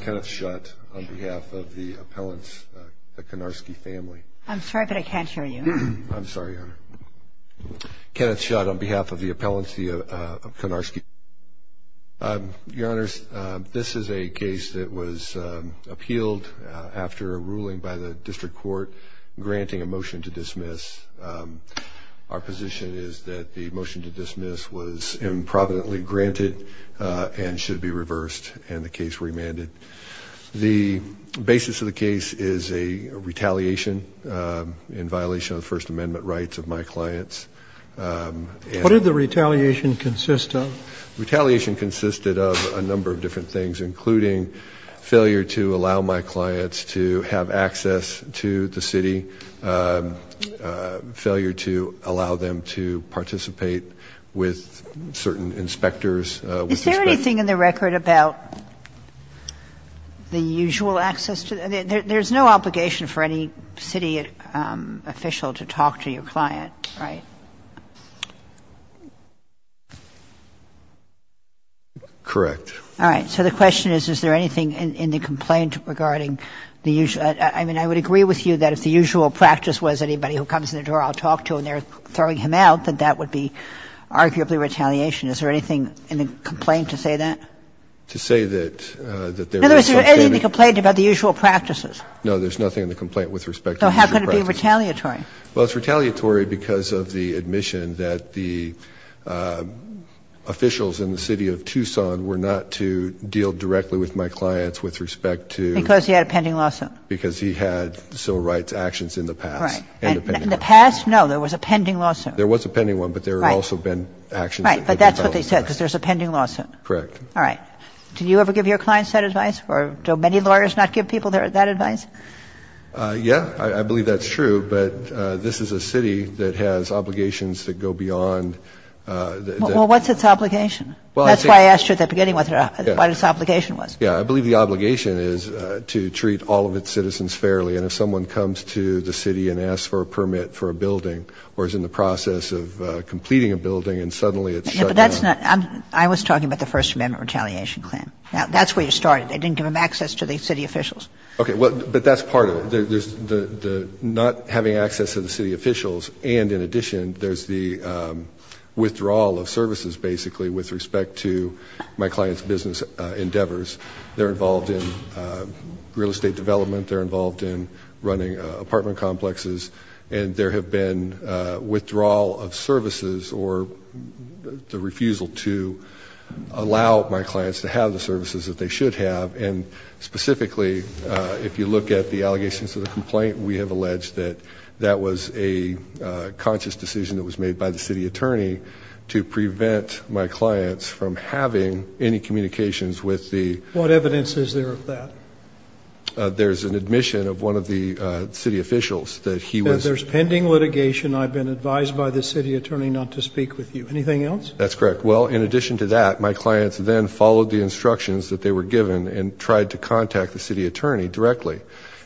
Kenneth Shutt, on behalf of the appellants, the Konarski family. This is a case that was appealed after a ruling by the district court granting a motion to dismiss. Our position is that the motion to dismiss was improvidently granted and should be reversed and the case remanded. The basis of the case is a retaliation in violation of First Amendment rights of my clients. What did the retaliation consist of? Retaliation consisted of a number of different things, including failure to allow my clients to have access to the city. Failure to allow them to participate with certain inspectors. Is there anything in the record about the usual access? There's no obligation for any city official to talk to your client, right? Correct. All right. So the question is, is there anything in the complaint regarding the usual? I mean, I would agree with you that if the usual practice was anybody who comes in the door I'll talk to and they're throwing him out, that that would be arguably retaliation. Is there anything in the complaint to say that? To say that there is some kind of No, there's nothing in the complaint about the usual practices. No, there's nothing in the complaint with respect to the usual practices. So how can it be retaliatory? Well, it's retaliatory because of the admission that the officials in the city of Tucson were not to deal directly with my clients with respect to Because he had a pending lawsuit because he had civil rights actions in the past. In the past. No, there was a pending lawsuit. There was a pending one. But there have also been actions. Right. But that's what they said, because there's a pending lawsuit. Correct. All right. Do you ever give your clients that advice? Or do many lawyers not give people that advice? Yeah, I believe that's true. But this is a city that has obligations that go beyond. Well, what's its obligation? Well, that's why I asked you at the beginning what its obligation was. Yeah, I believe the obligation is to treat all of its citizens fairly. And if someone comes to the city and asks for a permit for a building or is in the process of completing a building and suddenly it's shut down. I was talking about the First Amendment retaliation claim. That's where you started. They didn't give them access to the city officials. Okay. But that's part of it. There's the not having access to the city officials. And in addition, there's the withdrawal of services, basically, with respect to my clients' business endeavors. They're involved in real estate development. They're involved in running apartment complexes. And there have been withdrawal of services or the refusal to allow my clients to have the services that they should have. And specifically, if you look at the allegations of the complaint, we have alleged that that was a conscious decision that was made by the city attorney to prevent my clients from having any communications with the... What evidence is there of that? There's an admission of one of the city officials that he was... That there's pending litigation. I've been advised by the city attorney not to speak with you. Anything else? That's correct. Well, in addition to that, my clients then followed the instructions that they were given and tried to contact the city attorney directly.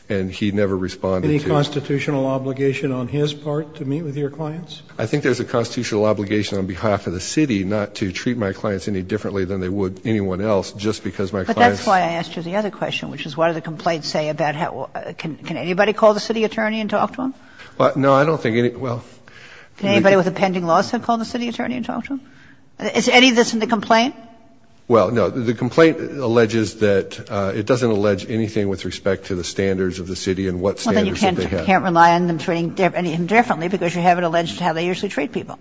And he never responded to... Any constitutional obligation on his part to meet with your clients? I think there's a constitutional obligation on behalf of the city not to treat my clients any differently than they would anyone else just because my clients... But that's why I asked you the other question, which is what do the complaints say about how... Can anybody call the city attorney and talk to him? No, I don't think any... Well... Can anybody with a pending lawsuit call the city attorney and talk to him? Is any of this in the complaint? Well, no. The complaint alleges that it doesn't allege anything with respect to the standards of the city and what standards that they have. But you can't rely on them treating him differently because you have it alleged how they usually treat people.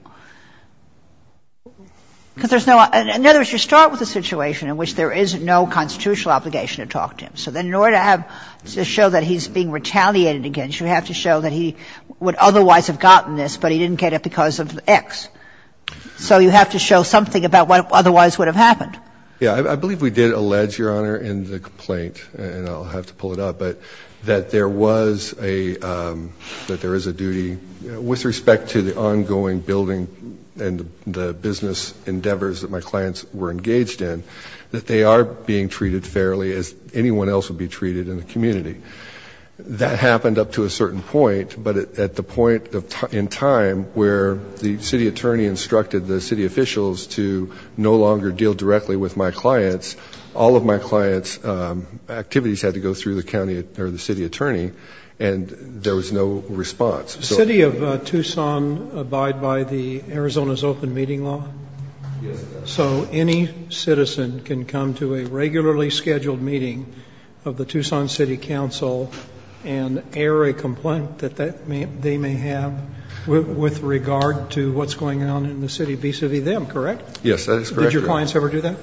Because there's no other... In other words, you start with a situation in which there is no constitutional obligation to talk to him. So then in order to have to show that he's being retaliated against, you have to show that he would otherwise have gotten this, but he didn't get it because of X. So you have to show something about what otherwise would have happened. Yeah. I believe we did allege, Your Honor, in the complaint, and I'll have to pull it up, but that there was a... That there is a duty with respect to the ongoing building and the business endeavors that my clients were engaged in, that they are being treated fairly as anyone else would be treated in the community. That happened up to a certain point, but at the point in time where the city attorney instructed the city officials to no longer deal directly with my clients, all of my clients' activities had to go through the county or the city attorney, and there was no response. Does the city of Tucson abide by the Arizona's Open Meeting Law? Yes, Your Honor. So any citizen can come to a regularly scheduled meeting of the Tucson City Council and air a complaint that they may have with regard to what's going on in the city, vis-a-vis them, correct? Yes, that is correct, Your Honor. Did your clients ever do that?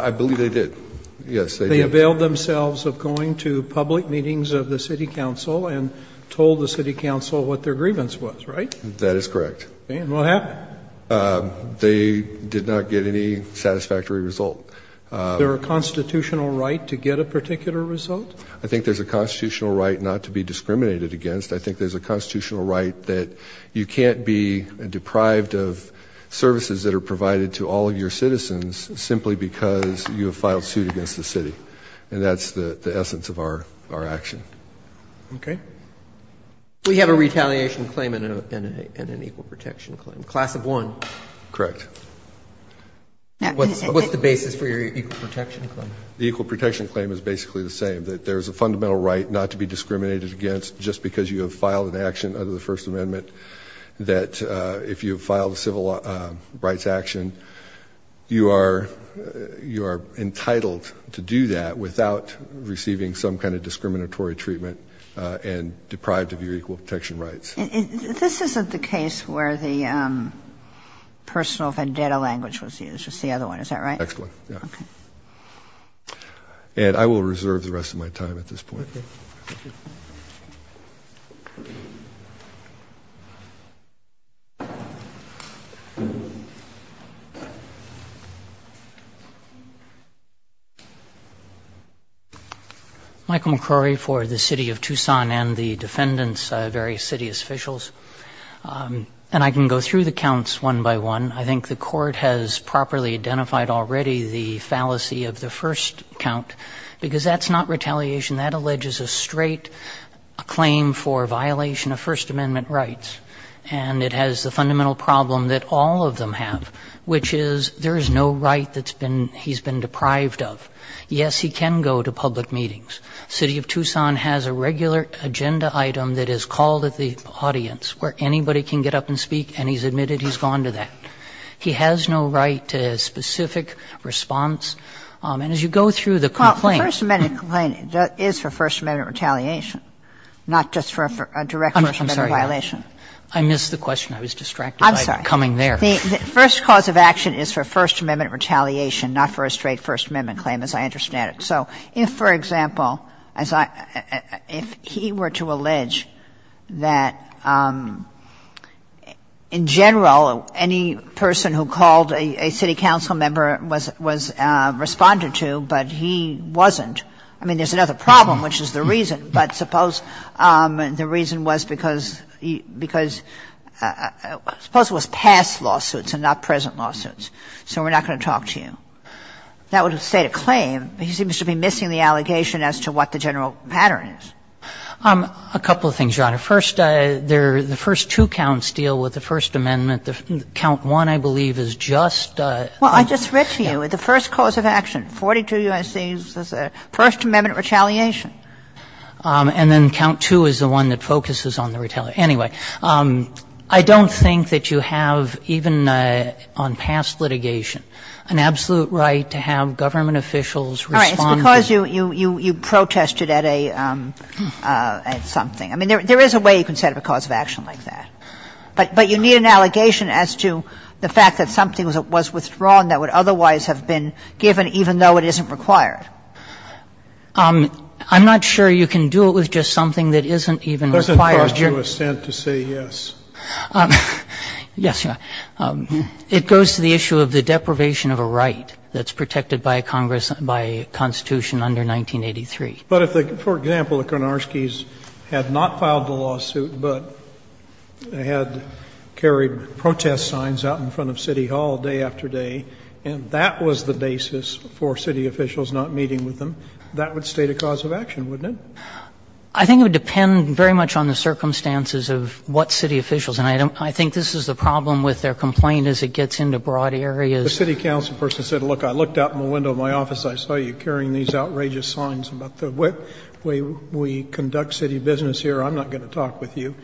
I believe they did. Yes, they did. They availed themselves of going to public meetings of the city council and told the city council what their grievance was, right? That is correct. And what happened? They did not get any satisfactory result. Is there a constitutional right to get a particular result? I think there's a constitutional right not to be discriminated against. I think there's a constitutional right that you can't be deprived of services that are provided to all of your citizens simply because you have filed suit against the city. And that's the essence of our action. Okay. We have a retaliation claim and an equal protection claim. Class of one. Correct. What's the basis for your equal protection claim? The equal protection claim is basically the same, that there's a fundamental right not to be discriminated against just because you have filed an action under the First Amendment, that if you file a civil rights action, you are entitled to do that without receiving some kind of discriminatory treatment and deprived of your equal protection rights. This isn't the case where the personal vendetta language was used. It's the other one. Is that right? The next one, yeah. Okay. And I will reserve the rest of my time at this point. Thank you. Michael McCrory for the city of Tucson and the defendants, various city officials. And I can go through the counts one by one. I think the court has properly identified already the fallacy of the first count, because that's not retaliation. That alleges a straight claim for violation of First Amendment rights. And it has the fundamental problem that all of them have, which is there is no right that's been he's been deprived of. Yes, he can go to public meetings. The city of Tucson has a regular agenda item that is called at the audience, where anybody can get up and speak, and he's admitted he's gone to that. He has no right to a specific response. And as you go through the complaints. The first cause of action is for First Amendment retaliation, not just for a direct First Amendment violation. I'm sorry. I missed the question. I was distracted by coming there. I'm sorry. The first cause of action is for First Amendment retaliation, not for a straight First Amendment claim, as I understand it. So if, for example, as I — if he were to allege that in general any person who called a city council member was responded to, but he wasn't. I mean, there's another problem, which is the reason. But suppose the reason was because — because — suppose it was past lawsuits and not present lawsuits. So we're not going to talk to you. That would have stayed a claim. But he seems to be missing the allegation as to what the general pattern is. A couple of things, Your Honor. First, the first two counts deal with the First Amendment. Count one, I believe, is just a — Well, I just read to you. The first cause of action, 42 U.S.C., is First Amendment retaliation. And then count two is the one that focuses on the retaliation. Anyway, I don't think that you have, even on past litigation, an absolute right to have government officials respond to — All right. It's because you protested at a — at something. I mean, there is a way you can set up a cause of action like that. But you need an allegation as to the fact that something was withdrawn that would otherwise have been given, even though it isn't required. I'm not sure you can do it with just something that isn't even required. But it's hard to assent to say yes. Yes, Your Honor. It goes to the issue of the deprivation of a right that's protected by a Congress — by a Constitution under 1983. But if the — for example, the Karnarskis had not filed the lawsuit, but they had carried protest signs out in front of City Hall day after day, and that was the basis for city officials not meeting with them, that would state a cause of action, wouldn't it? I think it would depend very much on the circumstances of what city officials — and I don't — I think this is the problem with their complaint as it gets into broad areas. The city council person said, look, I looked out in the window of my office, I saw you carrying these outrageous signs about the way we conduct city business here. I'm not going to talk with you.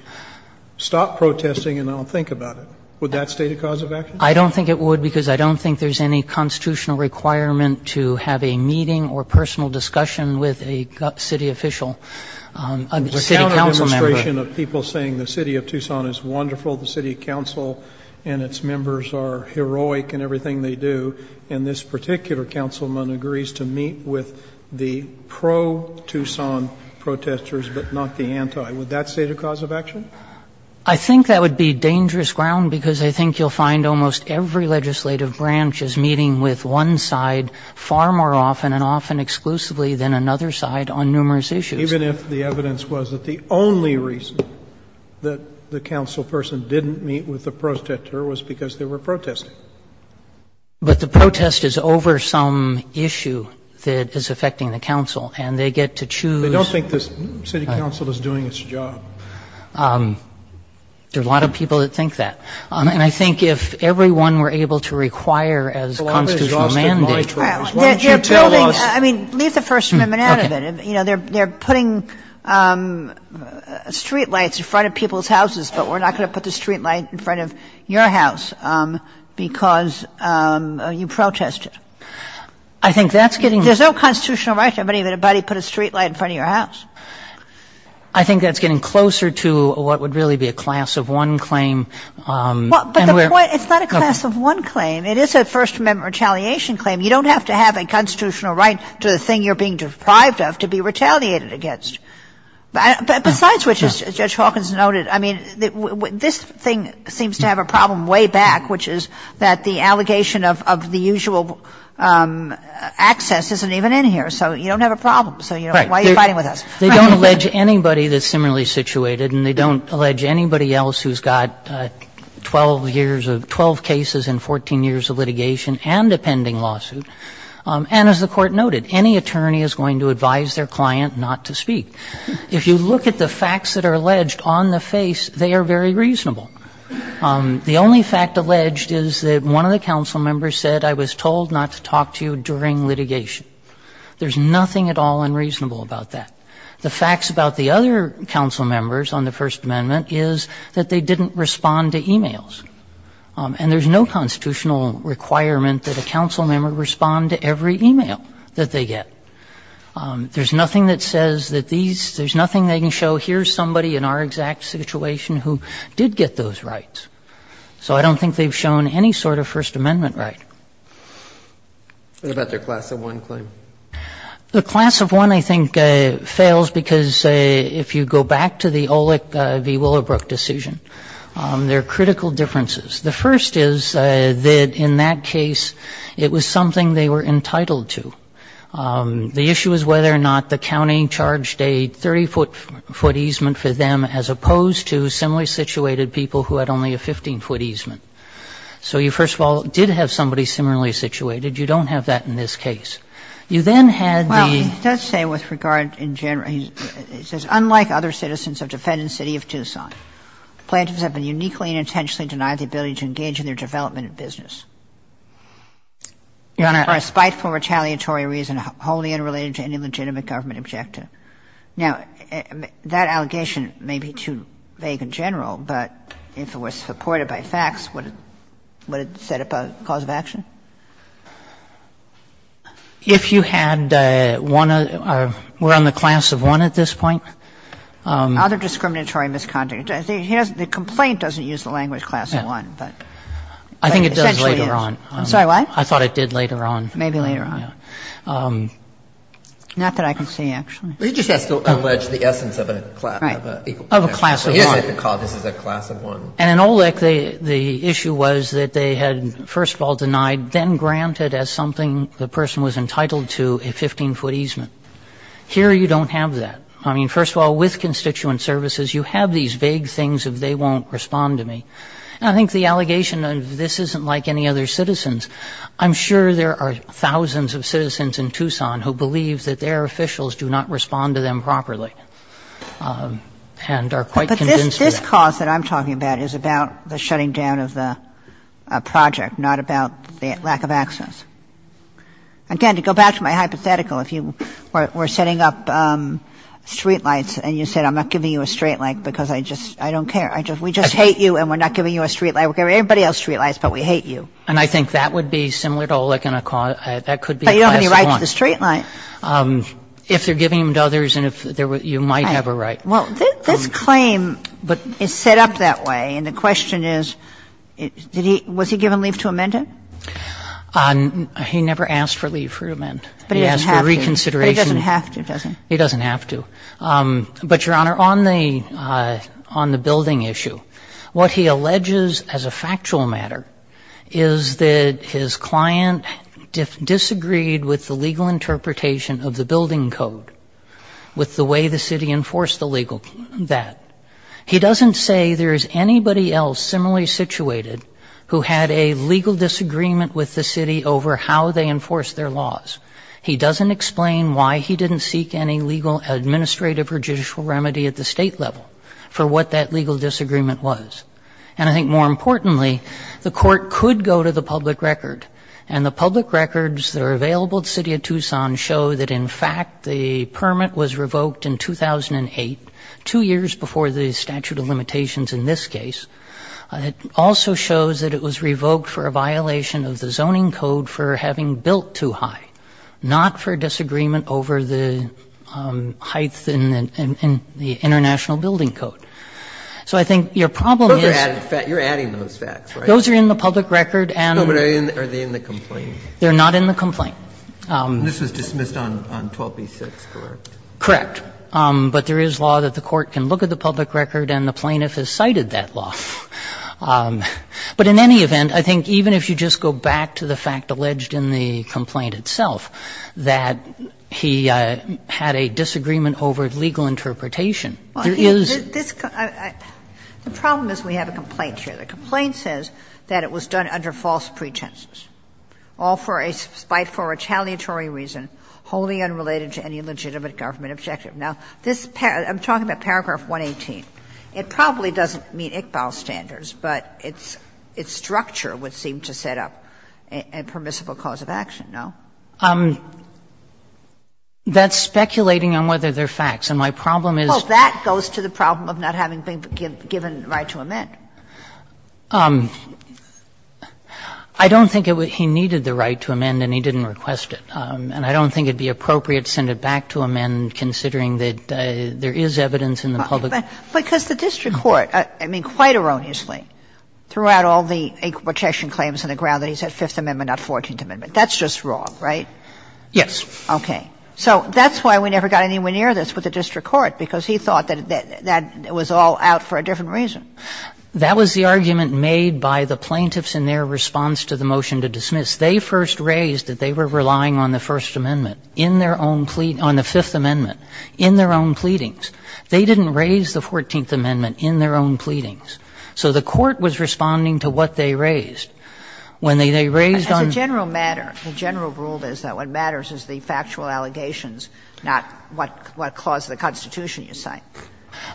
Stop protesting and I'll think about it. Would that state a cause of action? I don't think it would because I don't think there's any constitutional requirement to have a meeting or personal discussion with a city official, a city council member. We're now in a administration of people saying the city of Tucson is wonderful, the city council and its members are heroic in everything they do, and this particular councilman agrees to meet with the pro-Tucson protesters but not the anti. Would that state a cause of action? I think that would be dangerous ground because I think you'll find almost every legislative branch is meeting with one side far more often and often exclusively than another side on numerous issues. Even if the evidence was that the only reason that the council person didn't meet with the protester was because they were protesting. But the protest is over some issue that is affecting the council and they get to choose. They don't think the city council is doing its job. There are a lot of people that think that. And I think if everyone were able to require as constitutional mandate. I mean, leave the First Amendment out of it. They're putting street lights in front of people's houses, but we're not going to put the street light in front of your house because you protested. I think that's getting. There's no constitutional right to have anybody put a street light in front of your house. I think that's getting closer to what would really be a class of one claim. But the point, it's not a class of one claim. It is a First Amendment retaliation claim. You don't have to have a constitutional right to the thing you're being deprived of to be retaliated against. But besides which, as Judge Hawkins noted, I mean, this thing seems to have a problem way back, which is that the allegation of the usual access isn't even in here. So you don't have a problem. So why are you fighting with us? Right. They don't allege anybody that's similarly situated and they don't allege anybody else who's got 12 years of 12 cases and 14 years of litigation and a pending lawsuit. And as the Court noted, any attorney is going to advise their client not to speak. If you look at the facts that are alleged on the face, they are very reasonable. The only fact alleged is that one of the council members said, I was told not to talk to you during litigation. There's nothing at all unreasonable about that. The facts about the other council members on the First Amendment is that they didn't respond to e-mails. And there's no constitutional requirement that a council member respond to every e-mail that they get. There's nothing that says that these – there's nothing they can show, here's somebody in our exact situation who did get those rights. So I don't think they've shown any sort of First Amendment right. What about their Class of 1 claim? The Class of 1, I think, fails because if you go back to the Olick v. Willowbrook decision, there are critical differences. The first is that in that case, it was something they were entitled to. The issue is whether or not the county charged a 30-foot easement for them as opposed to similarly situated people who had only a 15-foot easement. So you, first of all, did have somebody similarly situated. You don't have that in this case. You then had the – Well, it does say with regard in general – it says, Now, that allegation may be too vague in general, but if it were supported by facts, would it set up a cause of action? If you had one of – we're on the Class of 1 at this point. Other discriminatory misconduct. The complaint doesn't use the language Class of 1, but it essentially is. I think it does later on. I'm sorry, what? I thought it did later on. Maybe later on. Not that I can see, actually. He just has to allege the essence of a Class of 1. Right. Of a Class of 1. He doesn't have to call this a Class of 1. And in Olick, the issue was that they had, first of all, denied, then granted as something the person was entitled to, a 15-foot easement. Here, you don't have that. I mean, first of all, with constituent services, you have these vague things of they won't respond to me. And I think the allegation of this isn't like any other citizen's. I'm sure there are thousands of citizens in Tucson who believe that their officials do not respond to them properly and are quite convinced of that. But this cause that I'm talking about is about the shutting down of the project, not about the lack of access. And again, to go back to my hypothetical, if you were setting up streetlights and you said, I'm not giving you a streetlight because I just don't care, we just hate you and we're not giving you a streetlight. We're giving everybody else streetlights, but we hate you. And I think that would be similar to Olick and that could be a Class of 1. But you don't have any right to the streetlight. If they're giving them to others, you might have a right. Well, this claim is set up that way. And the question is, was he given leave to amend it? He never asked for leave for amend. But he doesn't have to. He asked for reconsideration. But he doesn't have to, does he? He doesn't have to. But, Your Honor, on the building issue, what he alleges as a factual matter is that his client disagreed with the legal interpretation of the building code, with the way the city enforced the legal that. He doesn't say there is anybody else similarly situated who had a legal disagreement with the city over how they enforced their laws. He doesn't explain why he didn't seek any legal administrative or judicial remedy at the state level for what that legal disagreement was. And I think, more importantly, the court could go to the public record. And the public records that are available to the City of Tucson show that, in fact, the permit was revoked in 2008, two years before the statute of limitations in this case. It also shows that it was revoked for a violation of the zoning code for having built too high, not for disagreement over the heights in the international building code. So I think your problem is you're adding those facts, right? Those are in the public record. They're not in the complaint. And this was dismissed on 12b-6, correct? Correct. But there is law that the court can look at the public record, and the plaintiff has cited that law. But in any event, I think even if you just go back to the fact alleged in the complaint itself, that he had a disagreement over legal interpretation, there is. The problem is we have a complaint here. The complaint says that it was done under false pretenses. All for a spiteful retaliatory reason wholly unrelated to any legitimate government objective. Now, this paragraph, I'm talking about paragraph 118. It probably doesn't meet Iqbal's standards, but its structure would seem to set up a permissible cause of action, no? That's speculating on whether they're facts. And my problem is. Well, that goes to the problem of not having been given right to amend. I don't think he needed the right to amend, and he didn't request it. And I don't think it would be appropriate to send it back to amend, considering that there is evidence in the public record. Because the district court, I mean, quite erroneously, threw out all the equal protection claims on the ground that he said Fifth Amendment, not Fourteenth Amendment. That's just wrong, right? Yes. Okay. So that's why we never got anywhere near this with the district court, because he thought that that was all out for a different reason. That was the argument made by the plaintiffs in their response to the motion to dismiss. They first raised that they were relying on the First Amendment in their own plea to the Fifth Amendment in their own pleadings. They didn't raise the Fourteenth Amendment in their own pleadings. So the court was responding to what they raised. When they raised on the Fifth Amendment. As a general matter, the general rule is that what matters is the factual allegations, not what clause of the Constitution you cite.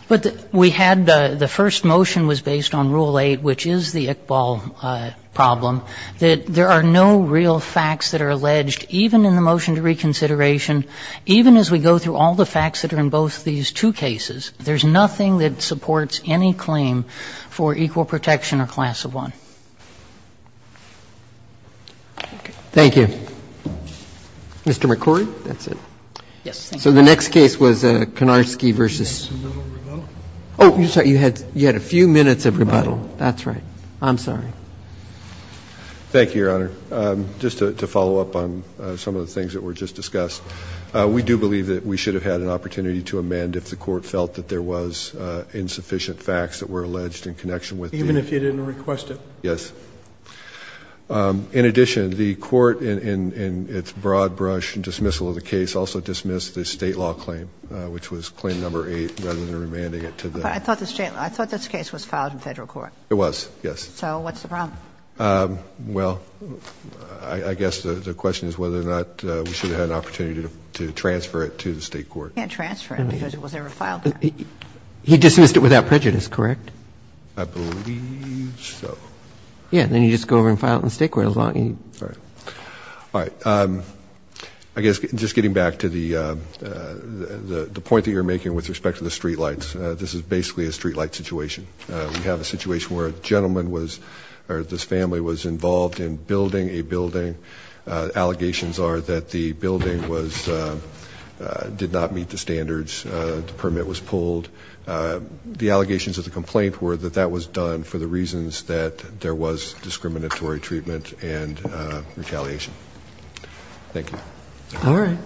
But we had the first motion was based on Rule 8, which is the Iqbal problem, that there are no real facts that are alleged, even in the motion to reconsideration, even as we go through all the facts that are in both these two cases. There's nothing that supports any claim for equal protection or class of one. Thank you. Mr. McCrory, that's it. So the next case was Konarski v. Oh, I'm sorry, you had a few minutes of rebuttal. That's right. I'm sorry. Thank you, Your Honor. Just to follow up on some of the things that were just discussed. We do believe that we should have had an opportunity to amend if the Court felt that there was insufficient facts that were alleged in connection with the. Even if you didn't request it? Yes. In addition, the Court in its broad brush dismissal of the case also dismissed the State law claim, which was claim number 8, rather than remanding it to the. I thought this case was filed in Federal court. It was, yes. So what's the problem? Well, I guess the question is whether or not we should have had an opportunity to transfer it to the State court. You can't transfer it because it was never filed. He dismissed it without prejudice, correct? I believe so. Yeah, then you just go over and file it in the State court as long as you need. All right. All right. I guess just getting back to the point that you're making with respect to the streetlights. This is basically a streetlight situation. We have a situation where a gentleman was, or this family was involved in building a building. Allegations are that the building was, did not meet the standards. The permit was pulled. The allegations of the complaint were that that was done for the reasons that there was discriminatory treatment and retaliation. Thank you. All right.